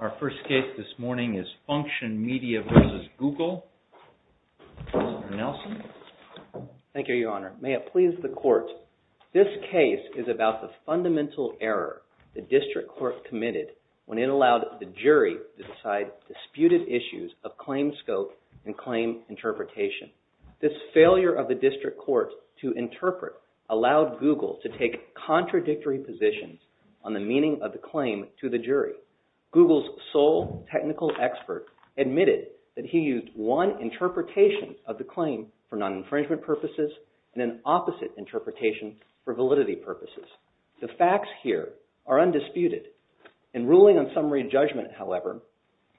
Our first case this morning is FUNCTION MEDIA v. GOOGLE. Mr. Nelson. Thank you, Your Honor. May it please the Court, this case is about the fundamental error the District Court committed when it allowed the jury to decide disputed issues of claim scope and claim interpretation. This failure of the District Court to interpret allowed Google to take contradictory positions on the meaning of the claim to the jury. Google's sole technical expert admitted that he used one interpretation of the claim for non-infringement purposes and an opposite interpretation for validity purposes. The facts here are undisputed. In ruling on summary judgment, however,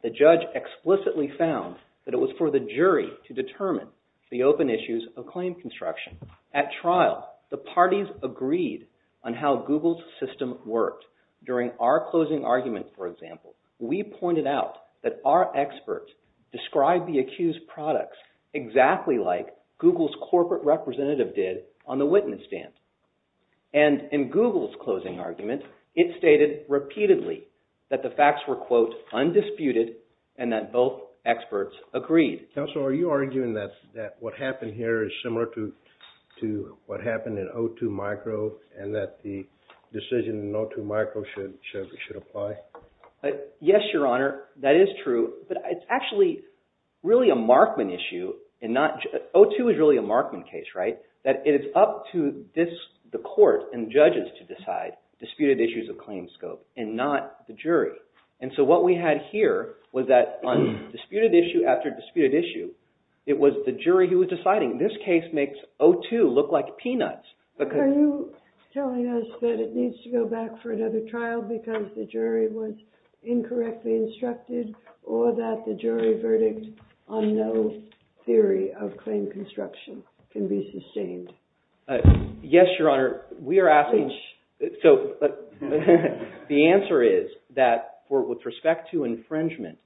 the judge explicitly found that it was for the jury to determine the open issues of claim construction. At trial, the parties agreed on how Google's system worked. During our closing argument, for example, we pointed out that our experts described the accused products exactly like Google's corporate representative did on the witness stand. And in Google's closing argument, it stated repeatedly that the facts were, quote, undisputed and that both experts agreed. Counsel, are you arguing that what happened here is similar to what happened in O2 Micro and that the decision in O2 Micro should apply? Yes, Your Honor. That is true. But it's actually really a Markman issue and not – O2 is really a Markman case, right? That it is up to the court and judges to decide disputed issues of claim scope and not the jury. And so what we had here was that on disputed issue after disputed issue, it was the jury who was deciding. This case makes O2 look like peanuts because – Are you telling us that it needs to go back for another trial because the jury was incorrectly instructed or that the jury verdict on no theory of claim construction can be sustained? Yes, Your Honor. We are asking – so the answer is that with respect to infringement,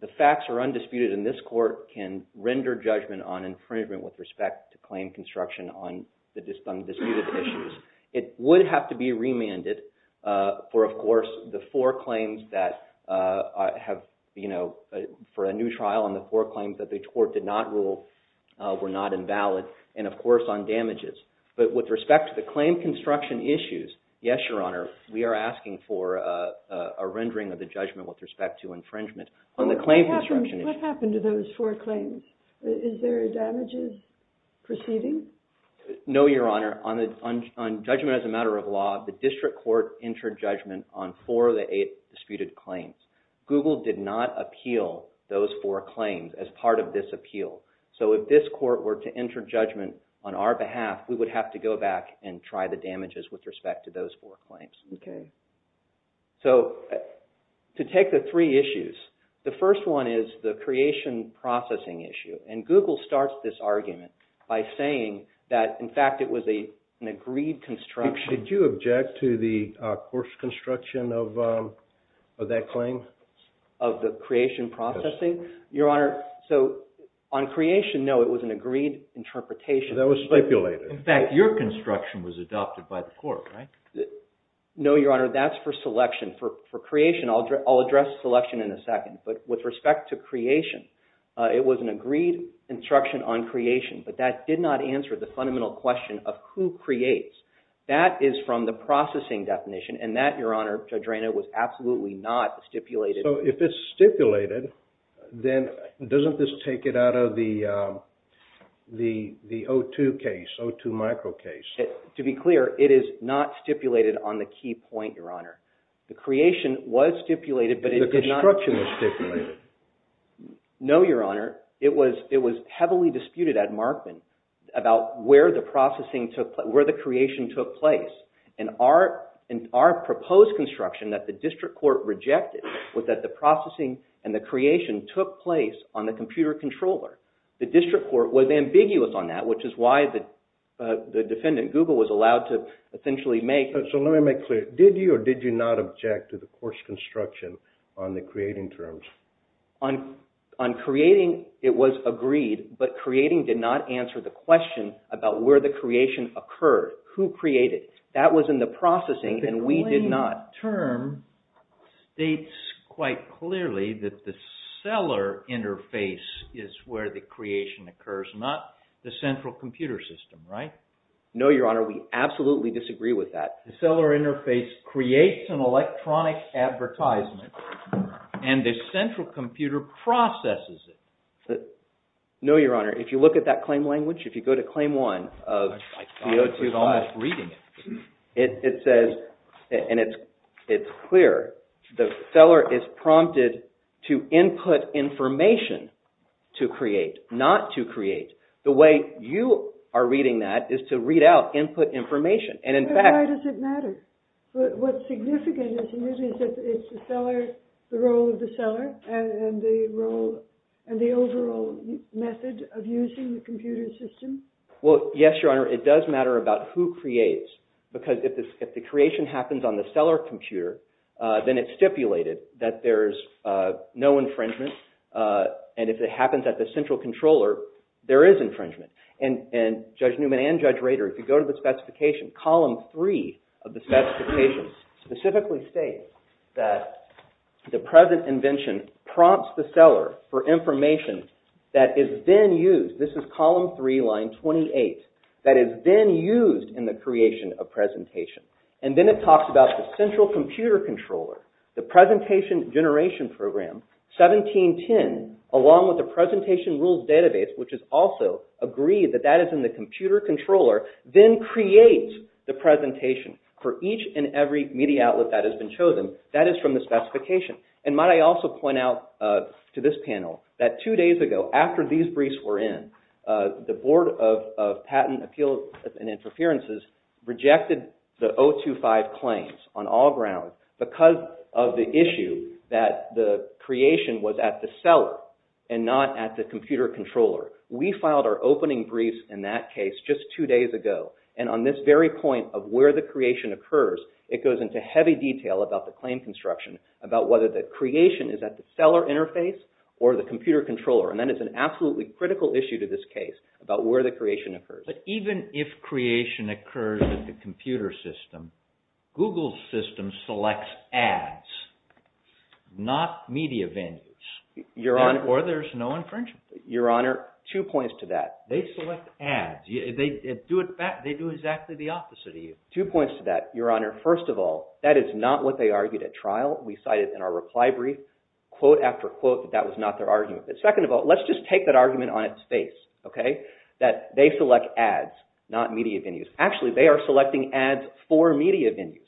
the facts are undisputed and this court can render judgment on infringement with respect to claim construction on disputed issues. It would have to be remanded for, of course, the four claims that have – for a new trial and the four claims that the court did not appeal were not invalid and, of course, on damages. But with respect to the claim construction issues, yes, Your Honor, we are asking for a rendering of the judgment with respect to infringement on the claim construction issue. What happened to those four claims? Is there a damages proceeding? No, Your Honor. On judgment as a matter of law, the district court entered judgment on four of the eight disputed claims. Google did not appeal those four claims as part of this appeal. So if this court were to enter judgment on our behalf, we would have to go back and try the damages with respect to those four claims. So to take the three issues, the first one is the creation processing issue and Google starts this argument by saying that, in fact, it was an agreed construction – Of that claim? Of the creation processing? Yes. Your Honor, so on creation, no, it was an agreed interpretation. So that was stipulated. In fact, your construction was adopted by the court, right? No, Your Honor, that's for selection. For creation, I'll address selection in a second. But with respect to creation, it was an agreed instruction on creation, but that did not answer the fundamental question of who creates. That is from the processing definition and that, Your Honor, Judge Reina, was absolutely not stipulated. So if it's stipulated, then doesn't this take it out of the O2 case, O2 micro case? To be clear, it is not stipulated on the key point, Your Honor. The creation was stipulated, but it did not – The construction was stipulated. No, Your Honor, it was heavily disputed at Markman about where the creation took place. And our proposed construction that the district court rejected was that the processing and the creation took place on the computer controller. The district court was ambiguous on that, which is why the defendant, Google, was allowed to essentially make – So let me make clear. Did you or did you not object to the court's construction on the creating terms? On creating, it was agreed, but creating did not answer the question about where the creation occurred, who created. That was in the processing and we did not – But the claim term states quite clearly that the seller interface is where the creation occurs, not the central computer system, right? No, Your Honor, we absolutely disagree with that. The seller interface creates an electronic advertisement and the central computer processes it. No, Your Honor, if you look at that claim language, if you go to Claim 1 of DO 2.5, it says, and it's clear, the seller is prompted to input information to create, not to create. The way you are reading that is to read out input information, and in fact – Why does it matter? What's significant is that it's the seller, the role of the seller, and the overall method of using the computer system. Well, yes, Your Honor, it does matter about who creates, because if the creation happens on the seller computer, then it's stipulated that there's no infringement, and if it happens at the central controller, there is infringement. And Judge Newman and Judge Rader, if you go to the specification, Column 3 of the specification specifically states that the present invention prompts the seller for information that is then used. This is Column 3, Line 28, that is then used in the creation of presentation. And then it talks about the central computer controller, the presentation generation program, 1710, along with the presentation rules database, which is also agreed that that is in the computer controller, then creates the presentation for each and every media outlet that has been chosen. That is from the specification. And might I also point out to this panel that two days ago, after these briefs were in, the Board of Patent Appeals and Interferences rejected the 025 claims on all grounds because of the issue that the creation was at the seller and not at the computer controller. We filed our opening briefs in that case just two days ago, and on this very point of where the creation occurs, it goes into heavy detail about the claim construction, about whether the creation is at the seller interface or the computer controller. And that is an absolutely critical issue to this case, about where the creation occurs. But even if creation occurs at the computer system, Google's system selects ads, not media vendors, or there's no infringement. Your Honor, two points to that. They select ads. They do exactly the opposite of you. Two points to that, Your Honor. First of all, that is not what they argued at trial. We cited in our reply brief, quote after quote, that that was not their argument. But second of all, let's just take that argument on its face, okay, that they select ads, not media venues. Actually, they are selecting ads for media venues.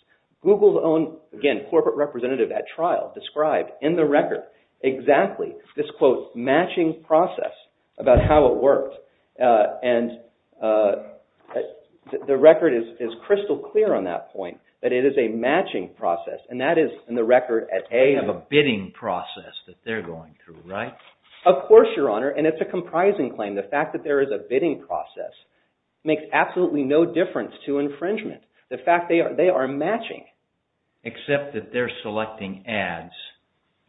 Google's own, again, corporate representative at trial described in the record exactly this, quote, matching process, about how it worked. And the record is crystal clear on that point, that it is a matching process. And that is, in the record, at A- They have a bidding process that they're going through, right? Of course, Your Honor. And it's a comprising claim. The fact that there is a bidding process makes absolutely no difference to infringement. The fact they are matching. Except that they're selecting ads,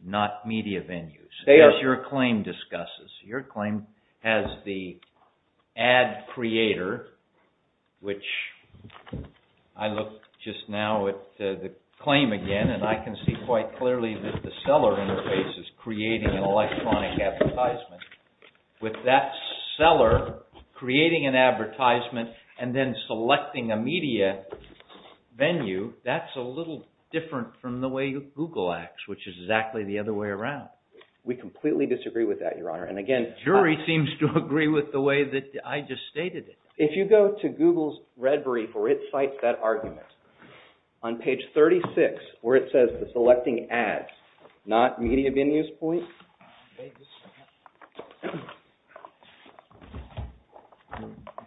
not media venues. They are. As your claim discusses. Your claim has the ad creator, which I look just now at the claim again, and I can see quite clearly that the seller interface is creating an electronic advertisement. With that seller creating an advertisement, that's a little different from the way Google acts, which is exactly the other way around. We completely disagree with that, Your Honor. And again- The jury seems to agree with the way that I just stated it. If you go to Google's red brief, where it cites that argument, on page 36, where it says the selecting ads, not media venues point-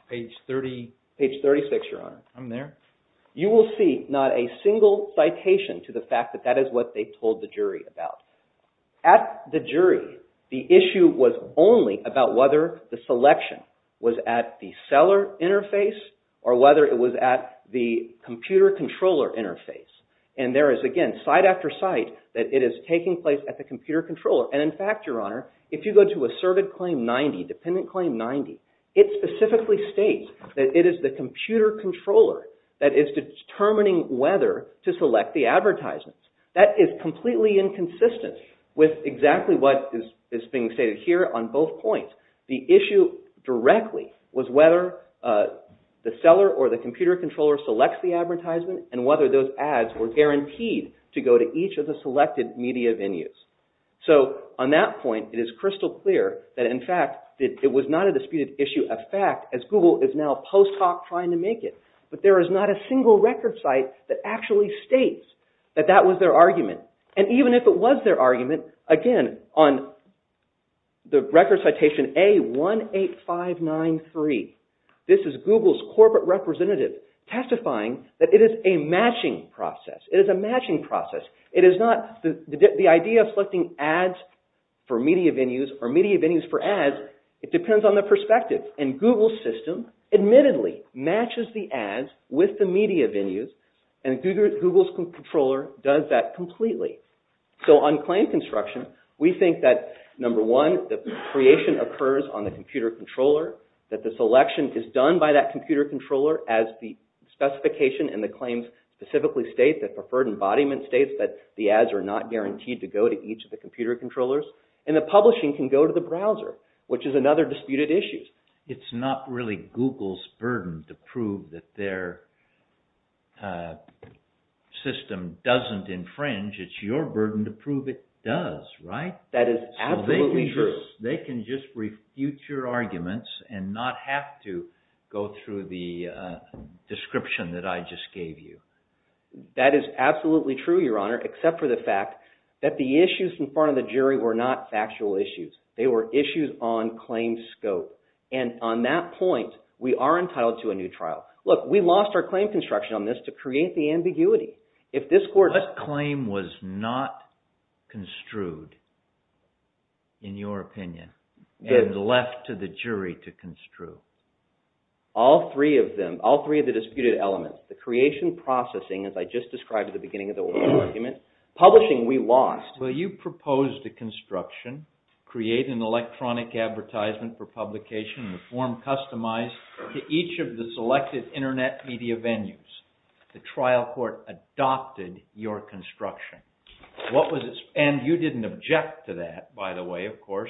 Page 30- Page 36, Your Honor. I'm there. You will see not a single citation to the fact that that is what they told the jury about. At the jury, the issue was only about whether the selection was at the seller interface or whether it was at the computer controller interface. And there is, again, side after side, that it is taking place at the computer controller. And in fact, Your Honor, if you go to asserted claim 90, dependent claim 90, it specifically states that it is the computer controller that is determining whether to select the advertisement. That is completely inconsistent with exactly what is being stated here on both points. The issue directly was whether the seller or the computer controller selects the advertisement and whether those ads were guaranteed to go to each of the selected media venues. So on that point, it is crystal clear that, in fact, it was not a disputed issue of fact as Google is now post hoc trying to make it. But there is not a single record site that actually states that that was their argument. And even if it was their argument, again, on the record citation A18593, this is Google's corporate representative testifying that it is a matching process. It is a matching process. The idea of selecting ads for media venues or media venues for ads, it depends on the perspective. And Google's system admittedly matches the ads with the media venues and Google's controller does that completely. So on claim construction, we think that, number one, the creation occurs on the computer controller, that the selection is done by that computer controller as the specification and the claims specifically state that preferred embodiment states that the ads are not guaranteed to go to each of the computer controllers, and the publishing can go to the browser, which is another disputed issue. It's not really Google's burden to prove that their system doesn't infringe. It's your burden to prove it does, right? That is absolutely true. They can just refute your arguments and not have to go through the description that I just gave you. That is absolutely true, Your Honor, except for the fact that the issues in front of the jury were not factual issues. They were issues on claim scope. And on that point, we are entitled to a new trial. Look, we lost our claim construction on this to create the ambiguity. What claim was not construed, in your opinion, and left to the jury to construe? All three of them. All three of the disputed elements. The creation processing, as I just described at the beginning of the oral argument. Publishing, we lost. Well, you proposed a construction, create an electronic advertisement for publication in the form customized to each of the selected internet media venues. The trial court adopted your construction. And you didn't object to that, by the way, of course.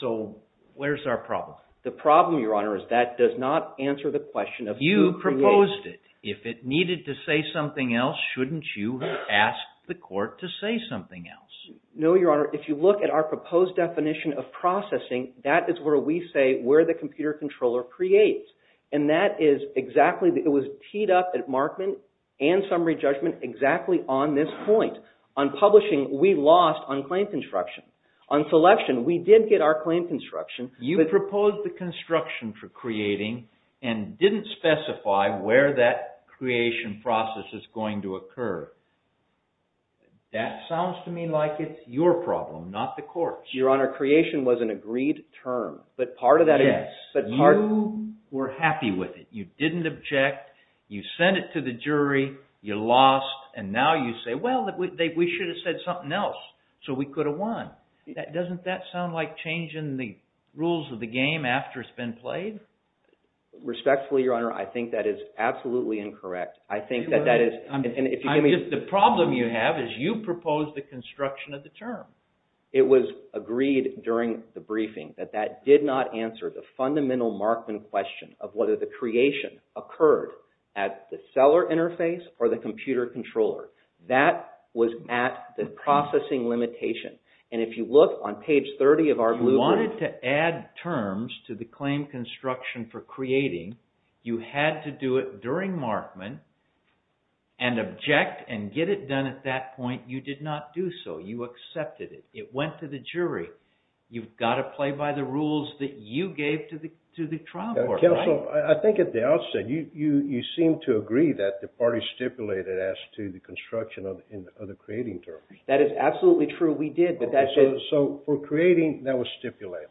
So, where's our The problem, Your Honor, is that does not answer the question of who created it. You proposed it. If it needed to say something else, shouldn't you have asked the court to say something else? No, Your Honor. If you look at our proposed definition of processing, that is where we say where the computer controller creates. And that is exactly, it was teed up at Markman and Summary Judgment exactly on this point. On publishing, we lost on claim construction. On selection, we did get our claim construction. You proposed the construction for creating and didn't specify where that creation process is going to occur. That sounds to me like it's your problem, not the court's. Your Honor, creation was an agreed term, but part of that Yes, you were happy with it. You didn't object, you sent it to the jury, you lost, and now you say, well, we should have said something else, so we could have won. Doesn't that sound like changing the rules of the game after it's been played? Respectfully, Your Honor, I think that is absolutely incorrect. I think that that is I'm just, the problem you have is you proposed the construction of the term. It was agreed during the briefing that that did not answer the fundamental Markman question of whether the creation occurred at the seller interface or the computer controller. That was at the processing limitation. And if you look on page 30 of our Blue Book You wanted to add terms to the claim construction for creating, you had to do it during Markman and object and get it done at that point. You did not do so. You accepted it. It went to the jury. You've got to play by the rules that you gave to the trial court, right? Counsel, I think at the outset, you seem to agree that the party stipulated as to the construction of the creating term. That is absolutely true. We did, but that did So, for creating, that was stipulated.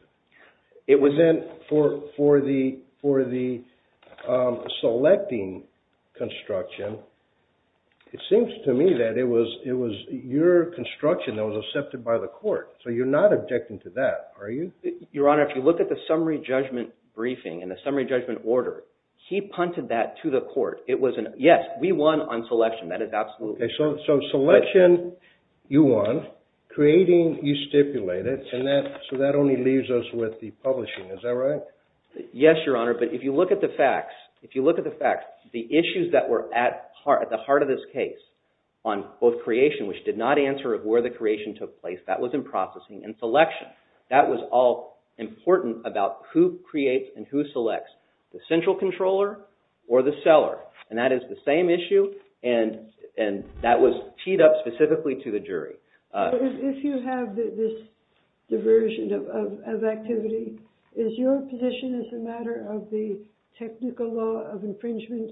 Then, for the selecting construction, it seems to me that it was your construction that was accepted by the court. So, you're not objecting to that, are you? Your Honor, if you look at the summary judgment briefing and the summary judgment order, he punted that to the court. Yes, we won on selection. That is absolutely true. So, selection, you won. Creating, you stipulated. So, that only leaves us with the publishing. Is that right? Yes, Your Honor, but if you look at the facts, the issues that were at the heart of this case on both creation, which did not answer of where the creation took place, that was in processing and selection. That was all important about who creates and who selects the central controller or the seller. And that is the same issue, and that was teed up specifically to the jury. If you have this diversion of activity, is your position as a matter of the technical law of infringement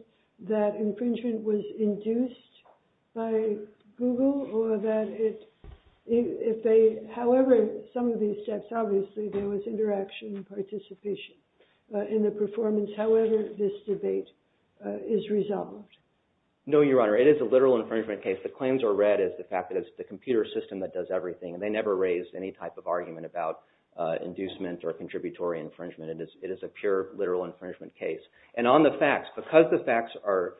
that infringement was induced by Google or that it, if they, however, some of these steps, obviously, there was interaction and participation in the performance, however, this debate is resolved? No, Your Honor, it is a literal infringement case. The claims are read as the fact that it's the computer system that does everything, and they never raise any type of argument about inducement or contributory infringement. It is a pure literal infringement case. And on the facts, because the facts are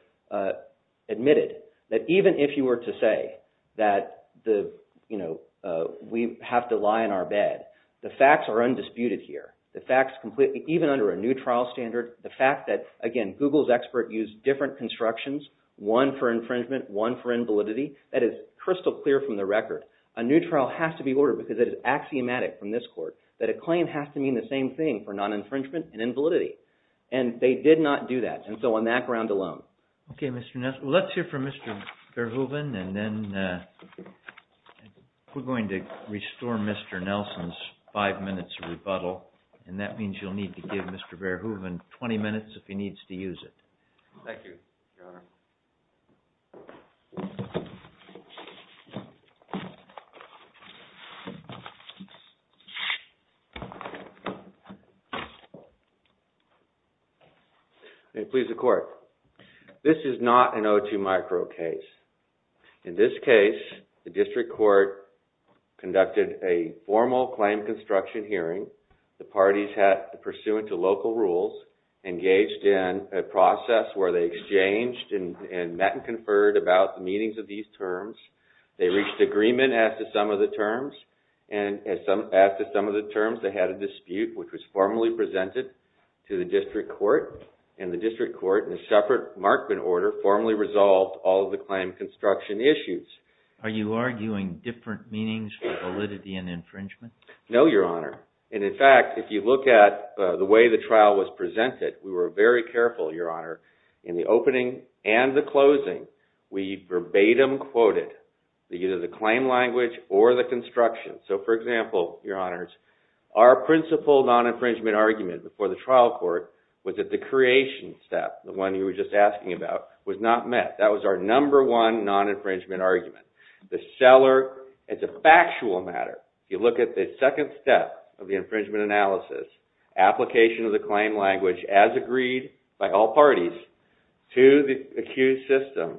admitted that even if you were to say that the, you know, we have to lie in our bed, the facts are undisputed here. The facts, even under a new trial standard, the fact that, again, Google's expert used different constructions, one for infringement, one for invalidity, that is crystal clear from the record. A new trial has to be ordered because it is axiomatic from this court that a claim has to mean the same thing for non-infringement and invalidity. And they did not do that, and so on that ground alone. Okay, Mr. Nelson. Let's hear from Mr. Verhoeven, and then we're going to restore Mr. Nelson's five minutes of rebuttal, and that means you'll need to give Mr. Verhoeven 20 minutes if he needs to use it. Thank you, Your Honor. May it please the court. This is not an O2 micro case. In this case, the district court conducted a formal claim construction hearing. The parties had, pursuant to local rules, engaged in a process where they exchanged and met and conferred about the meanings of these terms. They reached agreement as to some of the terms, and as to some of the terms, they had a dispute, which was formally presented to the district court, and the district court, in a separate markman order, formally resolved all of the claim construction issues. Are you arguing different meanings for validity and infringement? No, Your Honor. And in fact, if you look at the way the trial was presented, we were very careful, Your Honor. In the opening and the closing, we verbatim quoted either the claim language or the construction. So, for example, Your Honors, our principal non-infringement argument before the trial court was that the creation step, the one you were just asking about, was not met. That was our number one non-infringement argument. The seller, it's a factual matter. You look at the second step of the infringement analysis, application of the claim language as agreed by all parties to the accused system.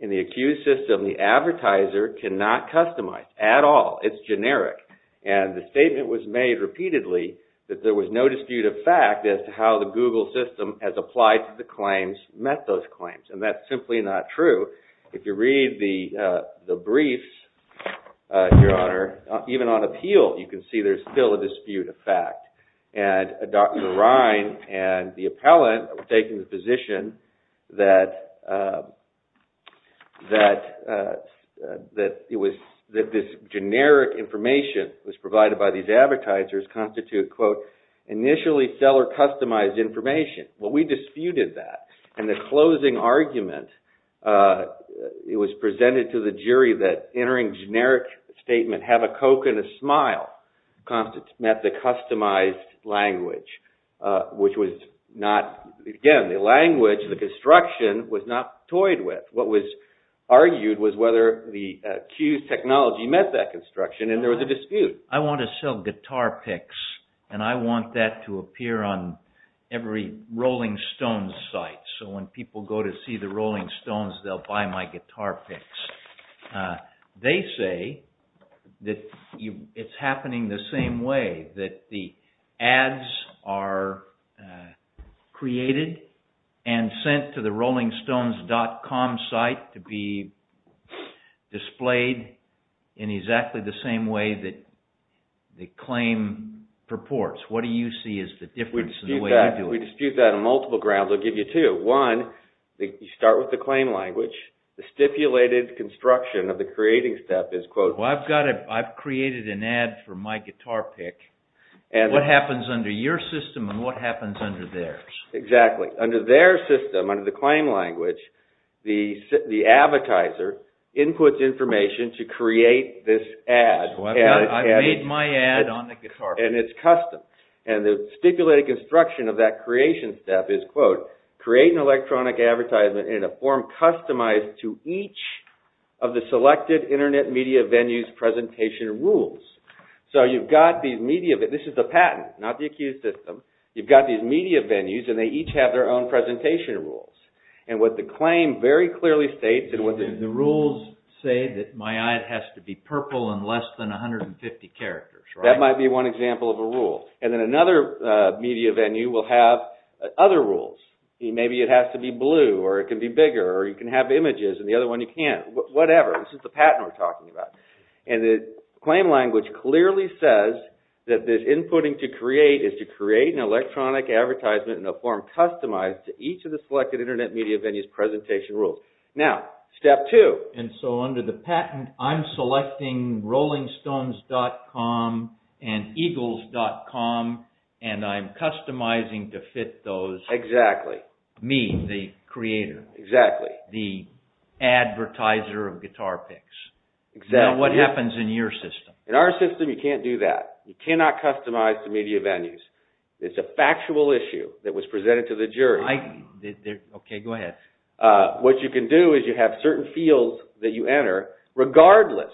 In the accused system, the advertiser cannot customize at all. It's generic. And the statement was made repeatedly that there was no dispute of fact as to how the Google system has applied to the claims, met those claims. And that's simply not true. If you read the briefs, Your Honor, even on appeal, you can see there's still a dispute of fact. And Dr. Ryan and the appellant were taking the position that this generic information was provided by these advertisers constitute, quote, initially seller-customized information. Well, we disputed that. And the closing argument, it was presented to the jury that entering generic statement, have a Coke and a smile, met the customized language, which was not, again, the language, the construction was not toyed with. What was argued was whether the accused technology met that construction, and there was a dispute. I want to sell guitar picks, and I want that to appear on every Rolling Stones site. So when people go to see the Rolling Stones, they'll buy my guitar picks. They say that it's happening the same way, that the ads are created and sent to the RollingStones.com site to be displayed in exactly the same way that the claim purports. What do you see is the difference in the way you do it? We dispute that on multiple grounds. I'll give you two. One, you start with the claim language. The stipulated construction of the creating step is, quote, Well, I've created an ad for my guitar pick. What happens under your system, and what happens under theirs? Exactly. Under their system, under the claim language, the advertiser inputs information to create this ad. So I've made my ad on the guitar pick. And it's custom. And the stipulated construction of that creation step is, quote, Create an electronic advertisement in a form customized to each of the selected internet media venues presentation rules. So you've got these media venues. This is the patent, not the accused system. You've got these media venues, and they each have their own presentation rules. And what the claim very clearly states is... The rules say that my ad has to be purple and less than 150 characters, right? That might be one example of a rule. And then another media venue will have other rules. Maybe it has to be blue, or it can be bigger, or you can have images, and the other one you can't. Whatever. This is the patent we're talking about. And the claim language clearly says that this inputting to create is to create an electronic advertisement in a form customized to each of the selected internet media venues presentation rules. Now, step two. And so under the patent, I'm selecting rollingstones.com and eagles.com, and I'm customizing to fit those... Exactly. Me, the creator. Exactly. The advertiser of guitar picks. Exactly. Now, what happens in your system? In our system, you can't do that. You cannot customize the media venues. It's a factual issue that was presented to the jury. Okay, go ahead. What you can do is you have certain fields that you enter, regardless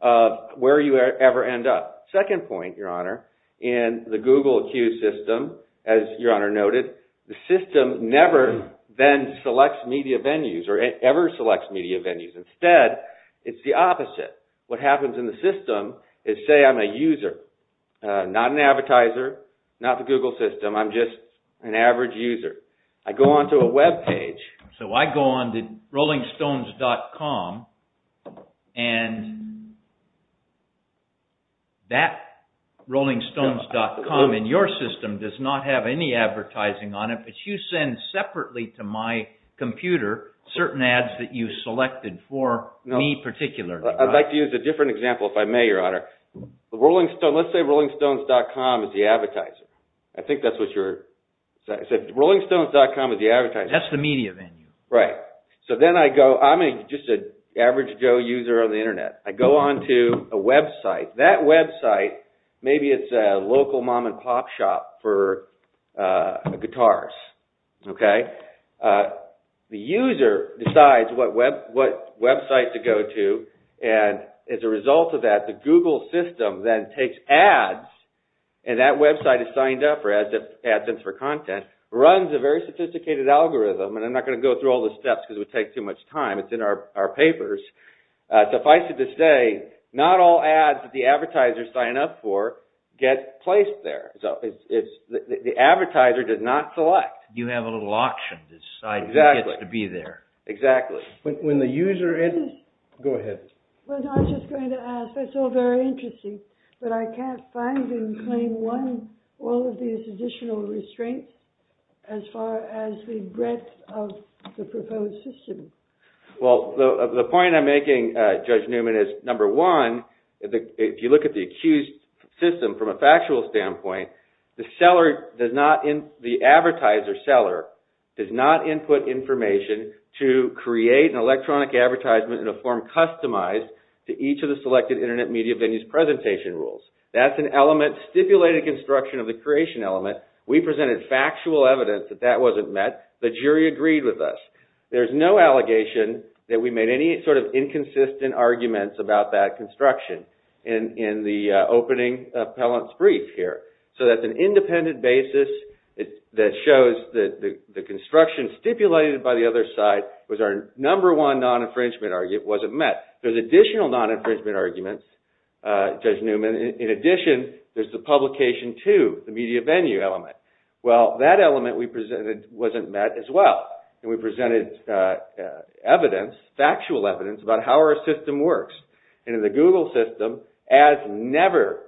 of where you ever end up. Second point, Your Honor, in the Google accused system, as Your Honor noted, the system never then selects media venues, or ever selects media venues. Instead, it's the opposite. What happens in the system is, say I'm a user, not an advertiser, not the Google system. I'm just an average user. I go onto a web page. So I go onto rollingstones.com, and that rollingstones.com in your system does not have any advertising on it, but you send separately to my computer certain ads that you selected for me particularly. I'd like to use a different example, if I may, Your Honor. Let's say rollingstones.com is the advertiser. I think that's what you're... Rollingstones.com is the advertiser. That's the media venue. Right. So then I go, I'm just an average Joe user on the internet. I go onto a website. That website, maybe it's a local mom and pop shop for guitars. Okay. The user decides what website to go to, and as a result of that, the Google system then takes ads, and that website is signed up for ads for content, runs a very sophisticated algorithm, and I'm not going to go through all the steps because it would take too much time. It's in our papers. Suffice it to say, not all ads that the advertiser signed up for get placed there. So the advertiser did not select. You have a little auction to decide who gets to be there. Exactly. Exactly. When the user... Go ahead. Well, I was just going to ask. That's all very interesting, but I can't find in claim one all of these additional restraints as far as the breadth of the proposed system. Well, the point I'm making, Judge Newman, is number one, if you look at the accused system from a factual standpoint, the seller does not... That's an element stipulated construction of the creation element. We presented factual evidence that that wasn't met. The jury agreed with us. There's no allegation that we made any sort of inconsistent arguments about that construction in the opening appellant's brief here. So that's an independent basis that shows that the construction stipulated by the other side was our number one non-infringement argument wasn't met. There's additional non-infringement arguments, Judge Newman. In addition, there's the publication to, the media venue element. Well, that element we presented wasn't met as well, and we presented evidence, factual evidence, about how our system works. In the Google system, ads never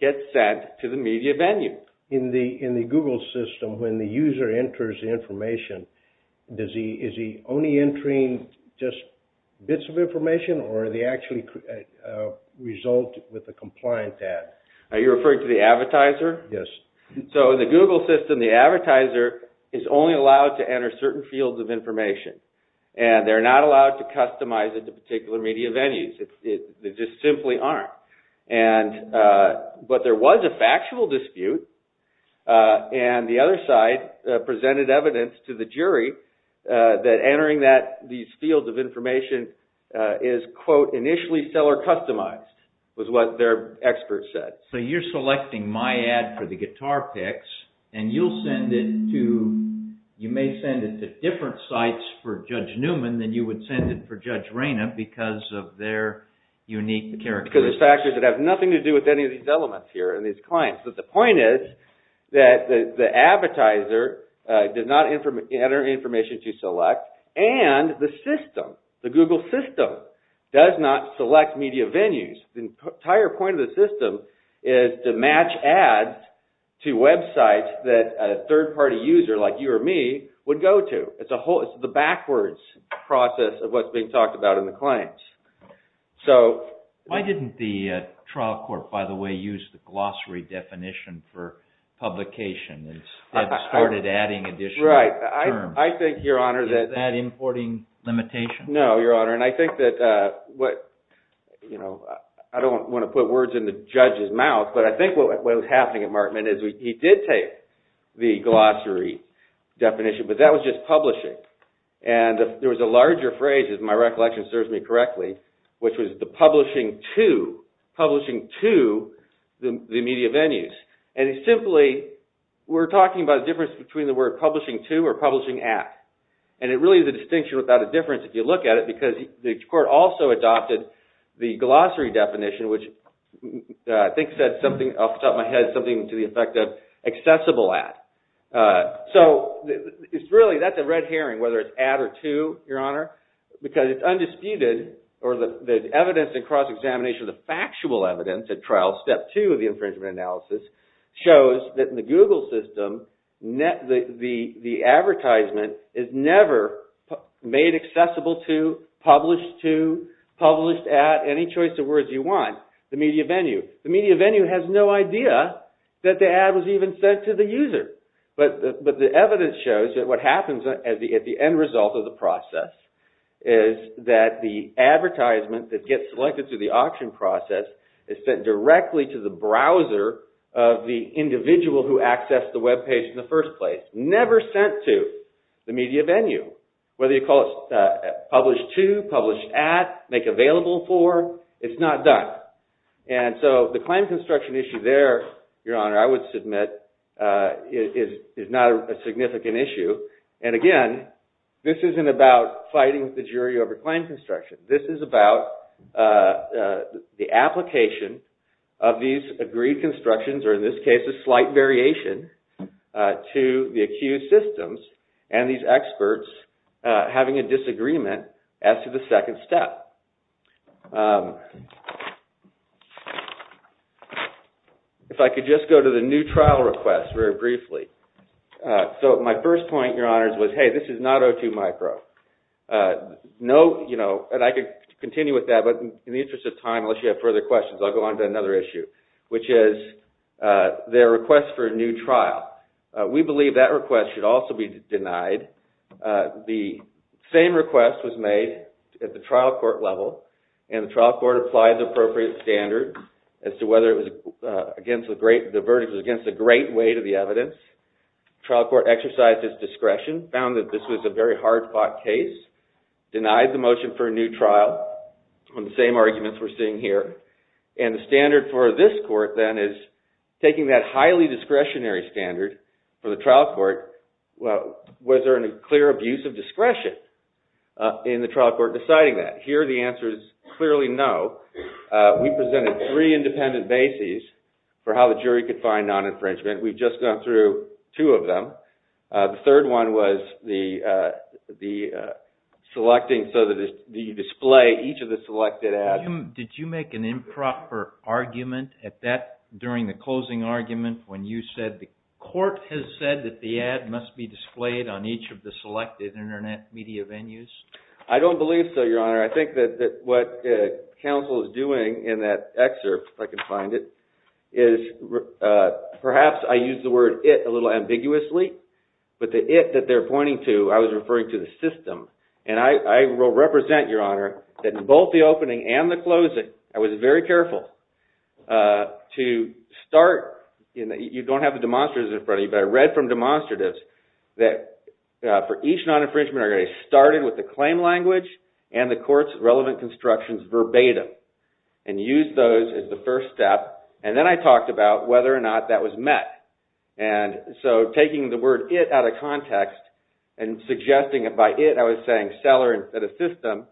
get sent to the media venue. In the Google system, when the user enters information, is he only entering just bits of information, or do they actually result with a compliant ad? Are you referring to the advertiser? Yes. So in the Google system, the advertiser is only allowed to enter certain fields of information, and they're not allowed to customize it to particular media venues. They just simply aren't. But there was a factual dispute, and the other side presented evidence to the jury that entering these fields of information is, quote, initially seller-customized, was what their expert said. So you're selecting my ad for the guitar picks, and you may send it to different sites for Judge Newman than you would send it for Judge Rayna because of their unique characteristics. Because there's factors that have nothing to do with any of these elements here and these clients. But the point is that the advertiser did not enter information to select, and the system, the Google system, does not select media venues. The entire point of the system is to match ads to websites that a third-party user like you or me would go to. It's the backwards process of what's being talked about in the claims. Why didn't the trial court, by the way, use the glossary definition for publication and instead started adding additional terms? Is that importing limitation? No, Your Honor. And I don't want to put words in the judge's mouth, but I think what was happening at Markman is he did take the glossary definition, but that was just publishing. And there was a larger phrase, if my recollection serves me correctly, which was the publishing to the media venues. And he simply – we're talking about a difference between the word publishing to or publishing at. And it really is a distinction without a difference if you look at it because the court also adopted the glossary definition, which I think said something off the top of my head, something to the effect of accessible at. So it's really – that's a red herring, whether it's at or to, Your Honor, because it's undisputed or the evidence in cross-examination of the factual evidence at trial, step two of the infringement analysis, shows that in the Google system, the advertisement is never made accessible to, published to, published at, any choice of words you want, the media venue. The media venue has no idea that the ad was even sent to the user. But the evidence shows that what happens at the end result of the process is that the advertisement that gets selected through the auction process is sent directly to the browser of the individual who accessed the webpage in the first place. Never sent to the media venue. Whether you call it published to, published at, make available for, it's not done. And so the claim construction issue there, Your Honor, I would submit is not a significant issue. And again, this isn't about fighting the jury over claim construction. This is about the application of these agreed constructions, or in this case a slight variation, to the accused systems and these experts having a disagreement as to the second step. If I could just go to the new trial request very briefly. So my first point, Your Honors, was hey, this is not O2 micro. And I could continue with that, but in the interest of time, unless you have further questions, I'll go on to another issue, which is their request for a new trial. We believe that request should also be denied. The same request was made at the trial court level, and the trial court applied the appropriate standards as to whether the verdict was against a great weight of the evidence. The trial court exercised its discretion, found that this was a very hard-fought case, denied the motion for a new trial on the same arguments we're seeing here. And the standard for this court, then, is taking that highly discretionary standard for the trial court, was there a clear abuse of discretion in the trial court deciding that? Here the answer is clearly no. We presented three independent bases for how the jury could find non-infringement. We've just gone through two of them. The third one was the selecting so that you display each of the selected ads. Did you make an improper argument during the closing argument when you said the court has said that the ad must be displayed on each of the selected Internet media venues? I don't believe so, Your Honor. I think that what counsel is doing in that excerpt, if I can find it, is perhaps I used the word it a little ambiguously. But the it that they're pointing to, I was referring to the system. And I will represent, Your Honor, that in both the opening and the closing, I was very careful to start. You don't have the demonstratives in front of you, but I read from demonstratives that for each non-infringement argument, I started with the claim language and the court's relevant constructions verbatim and used those as the first step. And then I talked about whether or not that was met. And so taking the word it out of context and suggesting it by it, I was saying seller instead of system.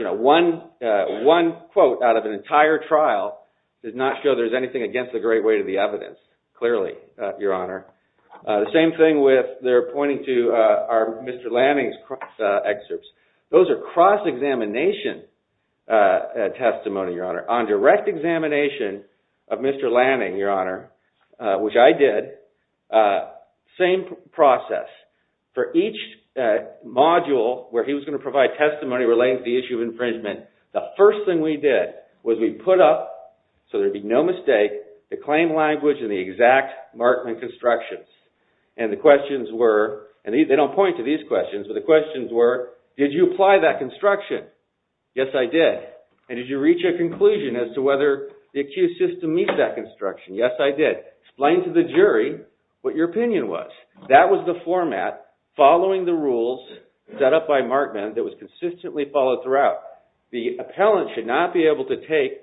One quote out of an entire trial does not show there's anything against the great weight of the evidence, clearly, Your Honor. The same thing with their pointing to Mr. Lanning's excerpts. Those are cross-examination testimony, Your Honor, on direct examination of Mr. Lanning, Your Honor. Which I did. Same process. For each module where he was going to provide testimony relating to the issue of infringement, the first thing we did was we put up, so there'd be no mistake, the claim language and the exact Markman constructions. And the questions were, and they don't point to these questions, but the questions were, did you apply that construction? Yes, I did. And did you reach a conclusion as to whether the accused system meets that construction? Yes, I did. Explain to the jury what your opinion was. That was the format following the rules set up by Markman that was consistently followed throughout. The appellant should not be able to take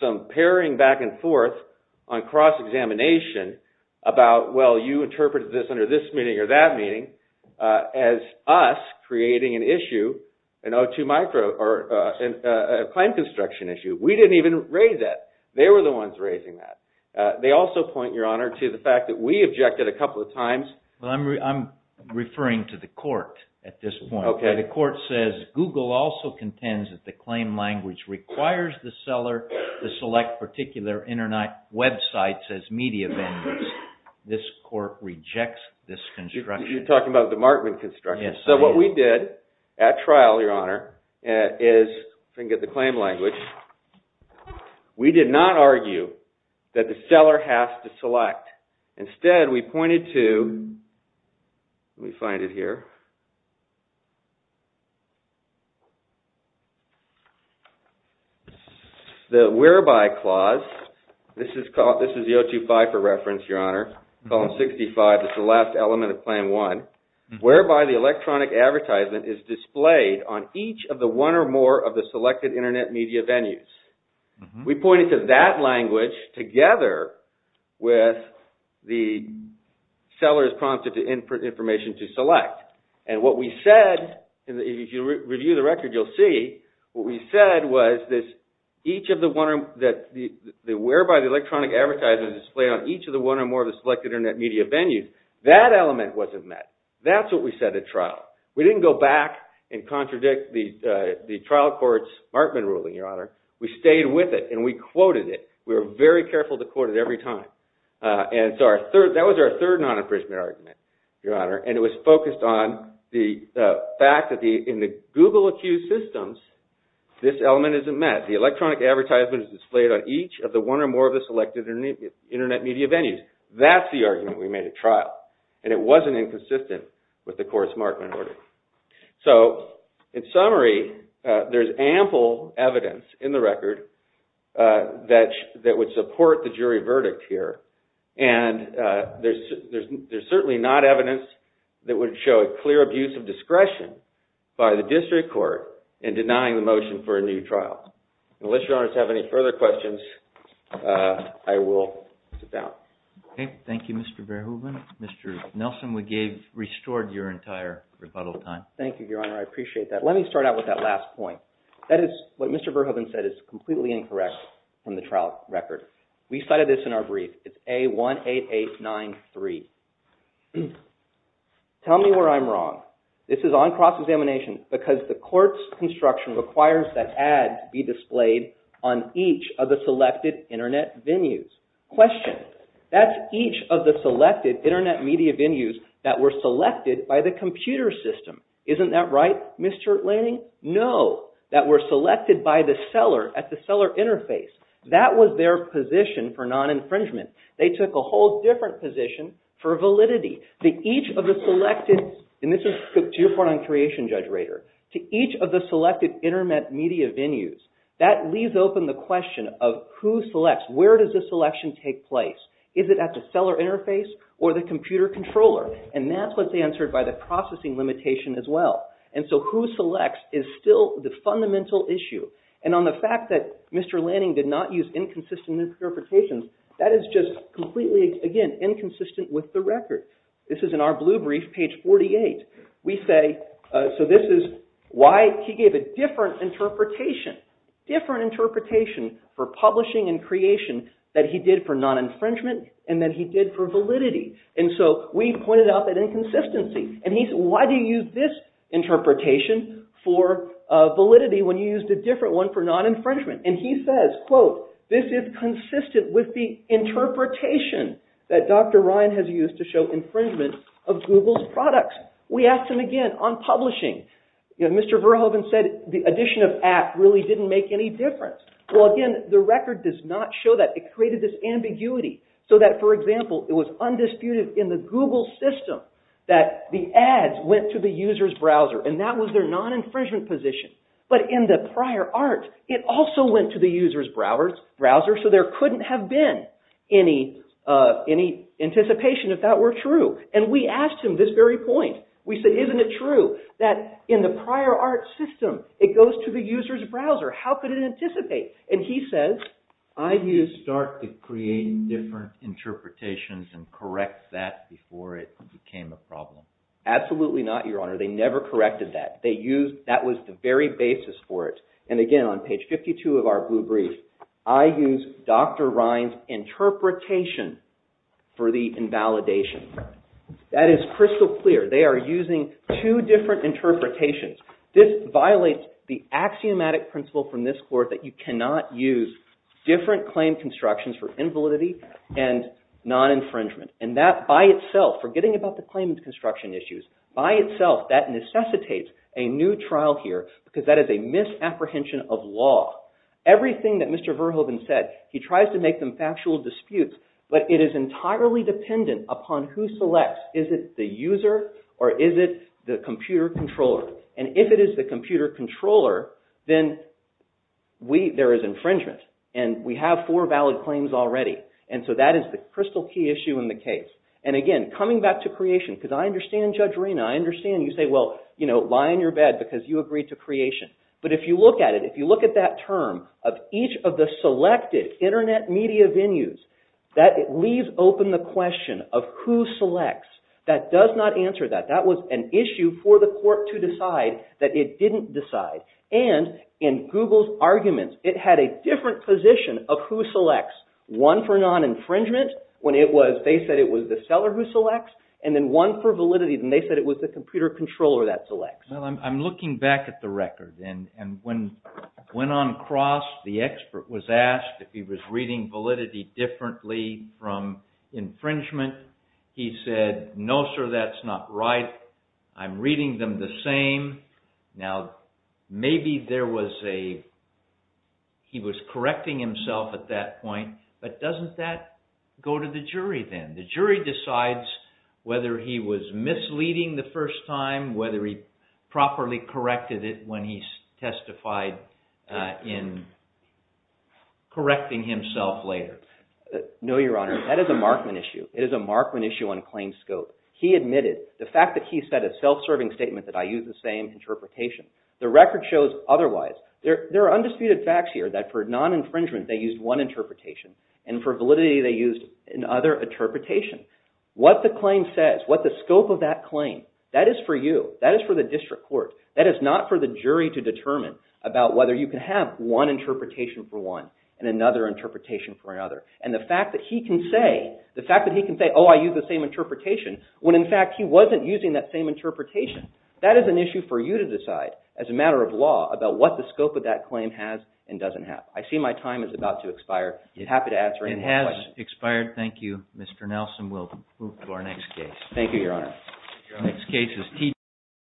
some paring back and forth on cross-examination about, well, you interpreted this under this meaning or that meaning as us creating an issue, a claim construction issue. We didn't even raise that. They were the ones raising that. They also point, Your Honor, to the fact that we objected a couple of times. I'm referring to the court at this point. Okay. The court says Google also contends that the claim language requires the seller to select particular Internet websites as media venues. This court rejects this construction. Yes, I am. So what we did at trial, Your Honor, is, if I can get the claim language, we did not argue that the seller has to select. Instead, we pointed to, let me find it here, the whereby clause, this is the 025 for reference, Your Honor, column 65, it's the last element of Plan 1, whereby the electronic advertisement is displayed on each of the one or more of the selected Internet media venues. We pointed to that language together with the seller is prompted to input information to select. And what we said, if you review the record, you'll see, what we said was that each of the one, whereby the electronic advertisement is displayed on each of the one or more of the selected Internet media venues, that element wasn't met. That's what we said at trial. We didn't go back and contradict the trial court's Markman ruling, Your Honor. We stayed with it and we quoted it. We were very careful to quote it every time. And so that was our third non-imprisonment argument, Your Honor, and it was focused on the fact that in the Google-accused systems, this element isn't met. The electronic advertisement is displayed on each of the one or more of the selected Internet media venues. That's the argument we made at trial, and it wasn't inconsistent with the court's Markman order. So, in summary, there's ample evidence in the record that would support the jury verdict here, and there's certainly not evidence that would show a clear abuse of discretion by the district court in denying the motion for a new trial. Unless Your Honor has any further questions, I will sit down. Okay. Thank you, Mr. Verhoeven. Mr. Nelson, we restored your entire rebuttal time. Thank you, Your Honor. I appreciate that. Let me start out with that last point. That is what Mr. Verhoeven said is completely incorrect from the trial record. We cited this in our brief. It's A18893. Tell me where I'm wrong. This is on cross-examination because the court's construction requires that ads be displayed on each of the selected Internet venues. Question. That's each of the selected Internet media venues that were selected by the computer system. Isn't that right, Mr. Lanning? No. That were selected by the seller at the seller interface. That was their position for non-infringement. They took a whole different position for validity. This is to your part on creation, Judge Rader. To each of the selected Internet media venues. That leaves open the question of who selects. Where does the selection take place? Is it at the seller interface or the computer controller? And that's what's answered by the processing limitation as well. And so who selects is still the fundamental issue. And on the fact that Mr. Lanning did not use inconsistent interpretations, that is just completely, again, inconsistent with the record. This is in our blue brief, page 48. We say, so this is why he gave a different interpretation. Different interpretation for publishing and creation that he did for non-infringement and that he did for validity. And so we pointed out that inconsistency. And he said, why do you use this interpretation for validity when you used a different one for non-infringement? And he says, quote, this is consistent with the interpretation that Dr. Ryan has used to show infringement of Google's products. We asked him again on publishing. Mr. Verhoeven said the addition of at really didn't make any difference. Well, again, the record does not show that. It created this ambiguity so that, for example, it was undisputed in the Google system that the ads went to the user's browser. And that was their non-infringement position. But in the prior art, it also went to the user's browser. So there couldn't have been any anticipation if that were true. And we asked him this very point. We said, isn't it true that in the prior art system, it goes to the user's browser? How could it anticipate? And he says, I used Dart to create different interpretations and correct that before it became a problem. Absolutely not, Your Honor. They never corrected that. That was the very basis for it. And again, on page 52 of our blue brief, I use Dr. Ryan's interpretation for the invalidation. That is crystal clear. They are using two different interpretations. This violates the axiomatic principle from this court that you cannot use different claim constructions for invalidity and non-infringement. And that by itself, forgetting about the claim construction issues, by itself, that necessitates a new trial here because that is a misapprehension of law. Everything that Mr. Verhoeven said, he tries to make them factual disputes. But it is entirely dependent upon who selects. Is it the user or is it the computer controller? And if it is the computer controller, then there is infringement. And we have four valid claims already. And so that is the crystal key issue in the case. And again, coming back to creation, because I understand Judge Reina. I understand you say, well, lie in your bed because you agreed to creation. But if you look at it, if you look at that term of each of the selected internet media venues, that leaves open the question of who selects. That does not answer that. That was an issue for the court to decide that it didn't decide. And in Google's arguments, it had a different position of who selects. One for non-infringement when they said it was the seller who selects. And then one for validity when they said it was the computer controller that selects. Well, I'm looking back at the record. And when on cross the expert was asked if he was reading validity differently from infringement, he said, no, sir, that's not right. I'm reading them the same. Now, maybe there was a – he was correcting himself at that point. But doesn't that go to the jury then? The jury decides whether he was misleading the first time, whether he properly corrected it when he testified in correcting himself later. No, Your Honor. That is a Markman issue. It is a Markman issue on claim scope. He admitted the fact that he said a self-serving statement that I use the same interpretation. The record shows otherwise. There are undisputed facts here that for non-infringement, they used one interpretation. And for validity, they used another interpretation. What the claim says, what the scope of that claim, that is for you. That is for the district court. That is not for the jury to determine about whether you can have one interpretation for one and another interpretation for another. And the fact that he can say, oh, I use the same interpretation, when in fact he wasn't using that same interpretation, that is an issue for you to decide as a matter of law about what the scope of that claim has and doesn't have. I see my time is about to expire. I'd be happy to answer any more questions. It has expired. Thank you, Mr. Nelson. We'll move to our next case. Thank you, Your Honor.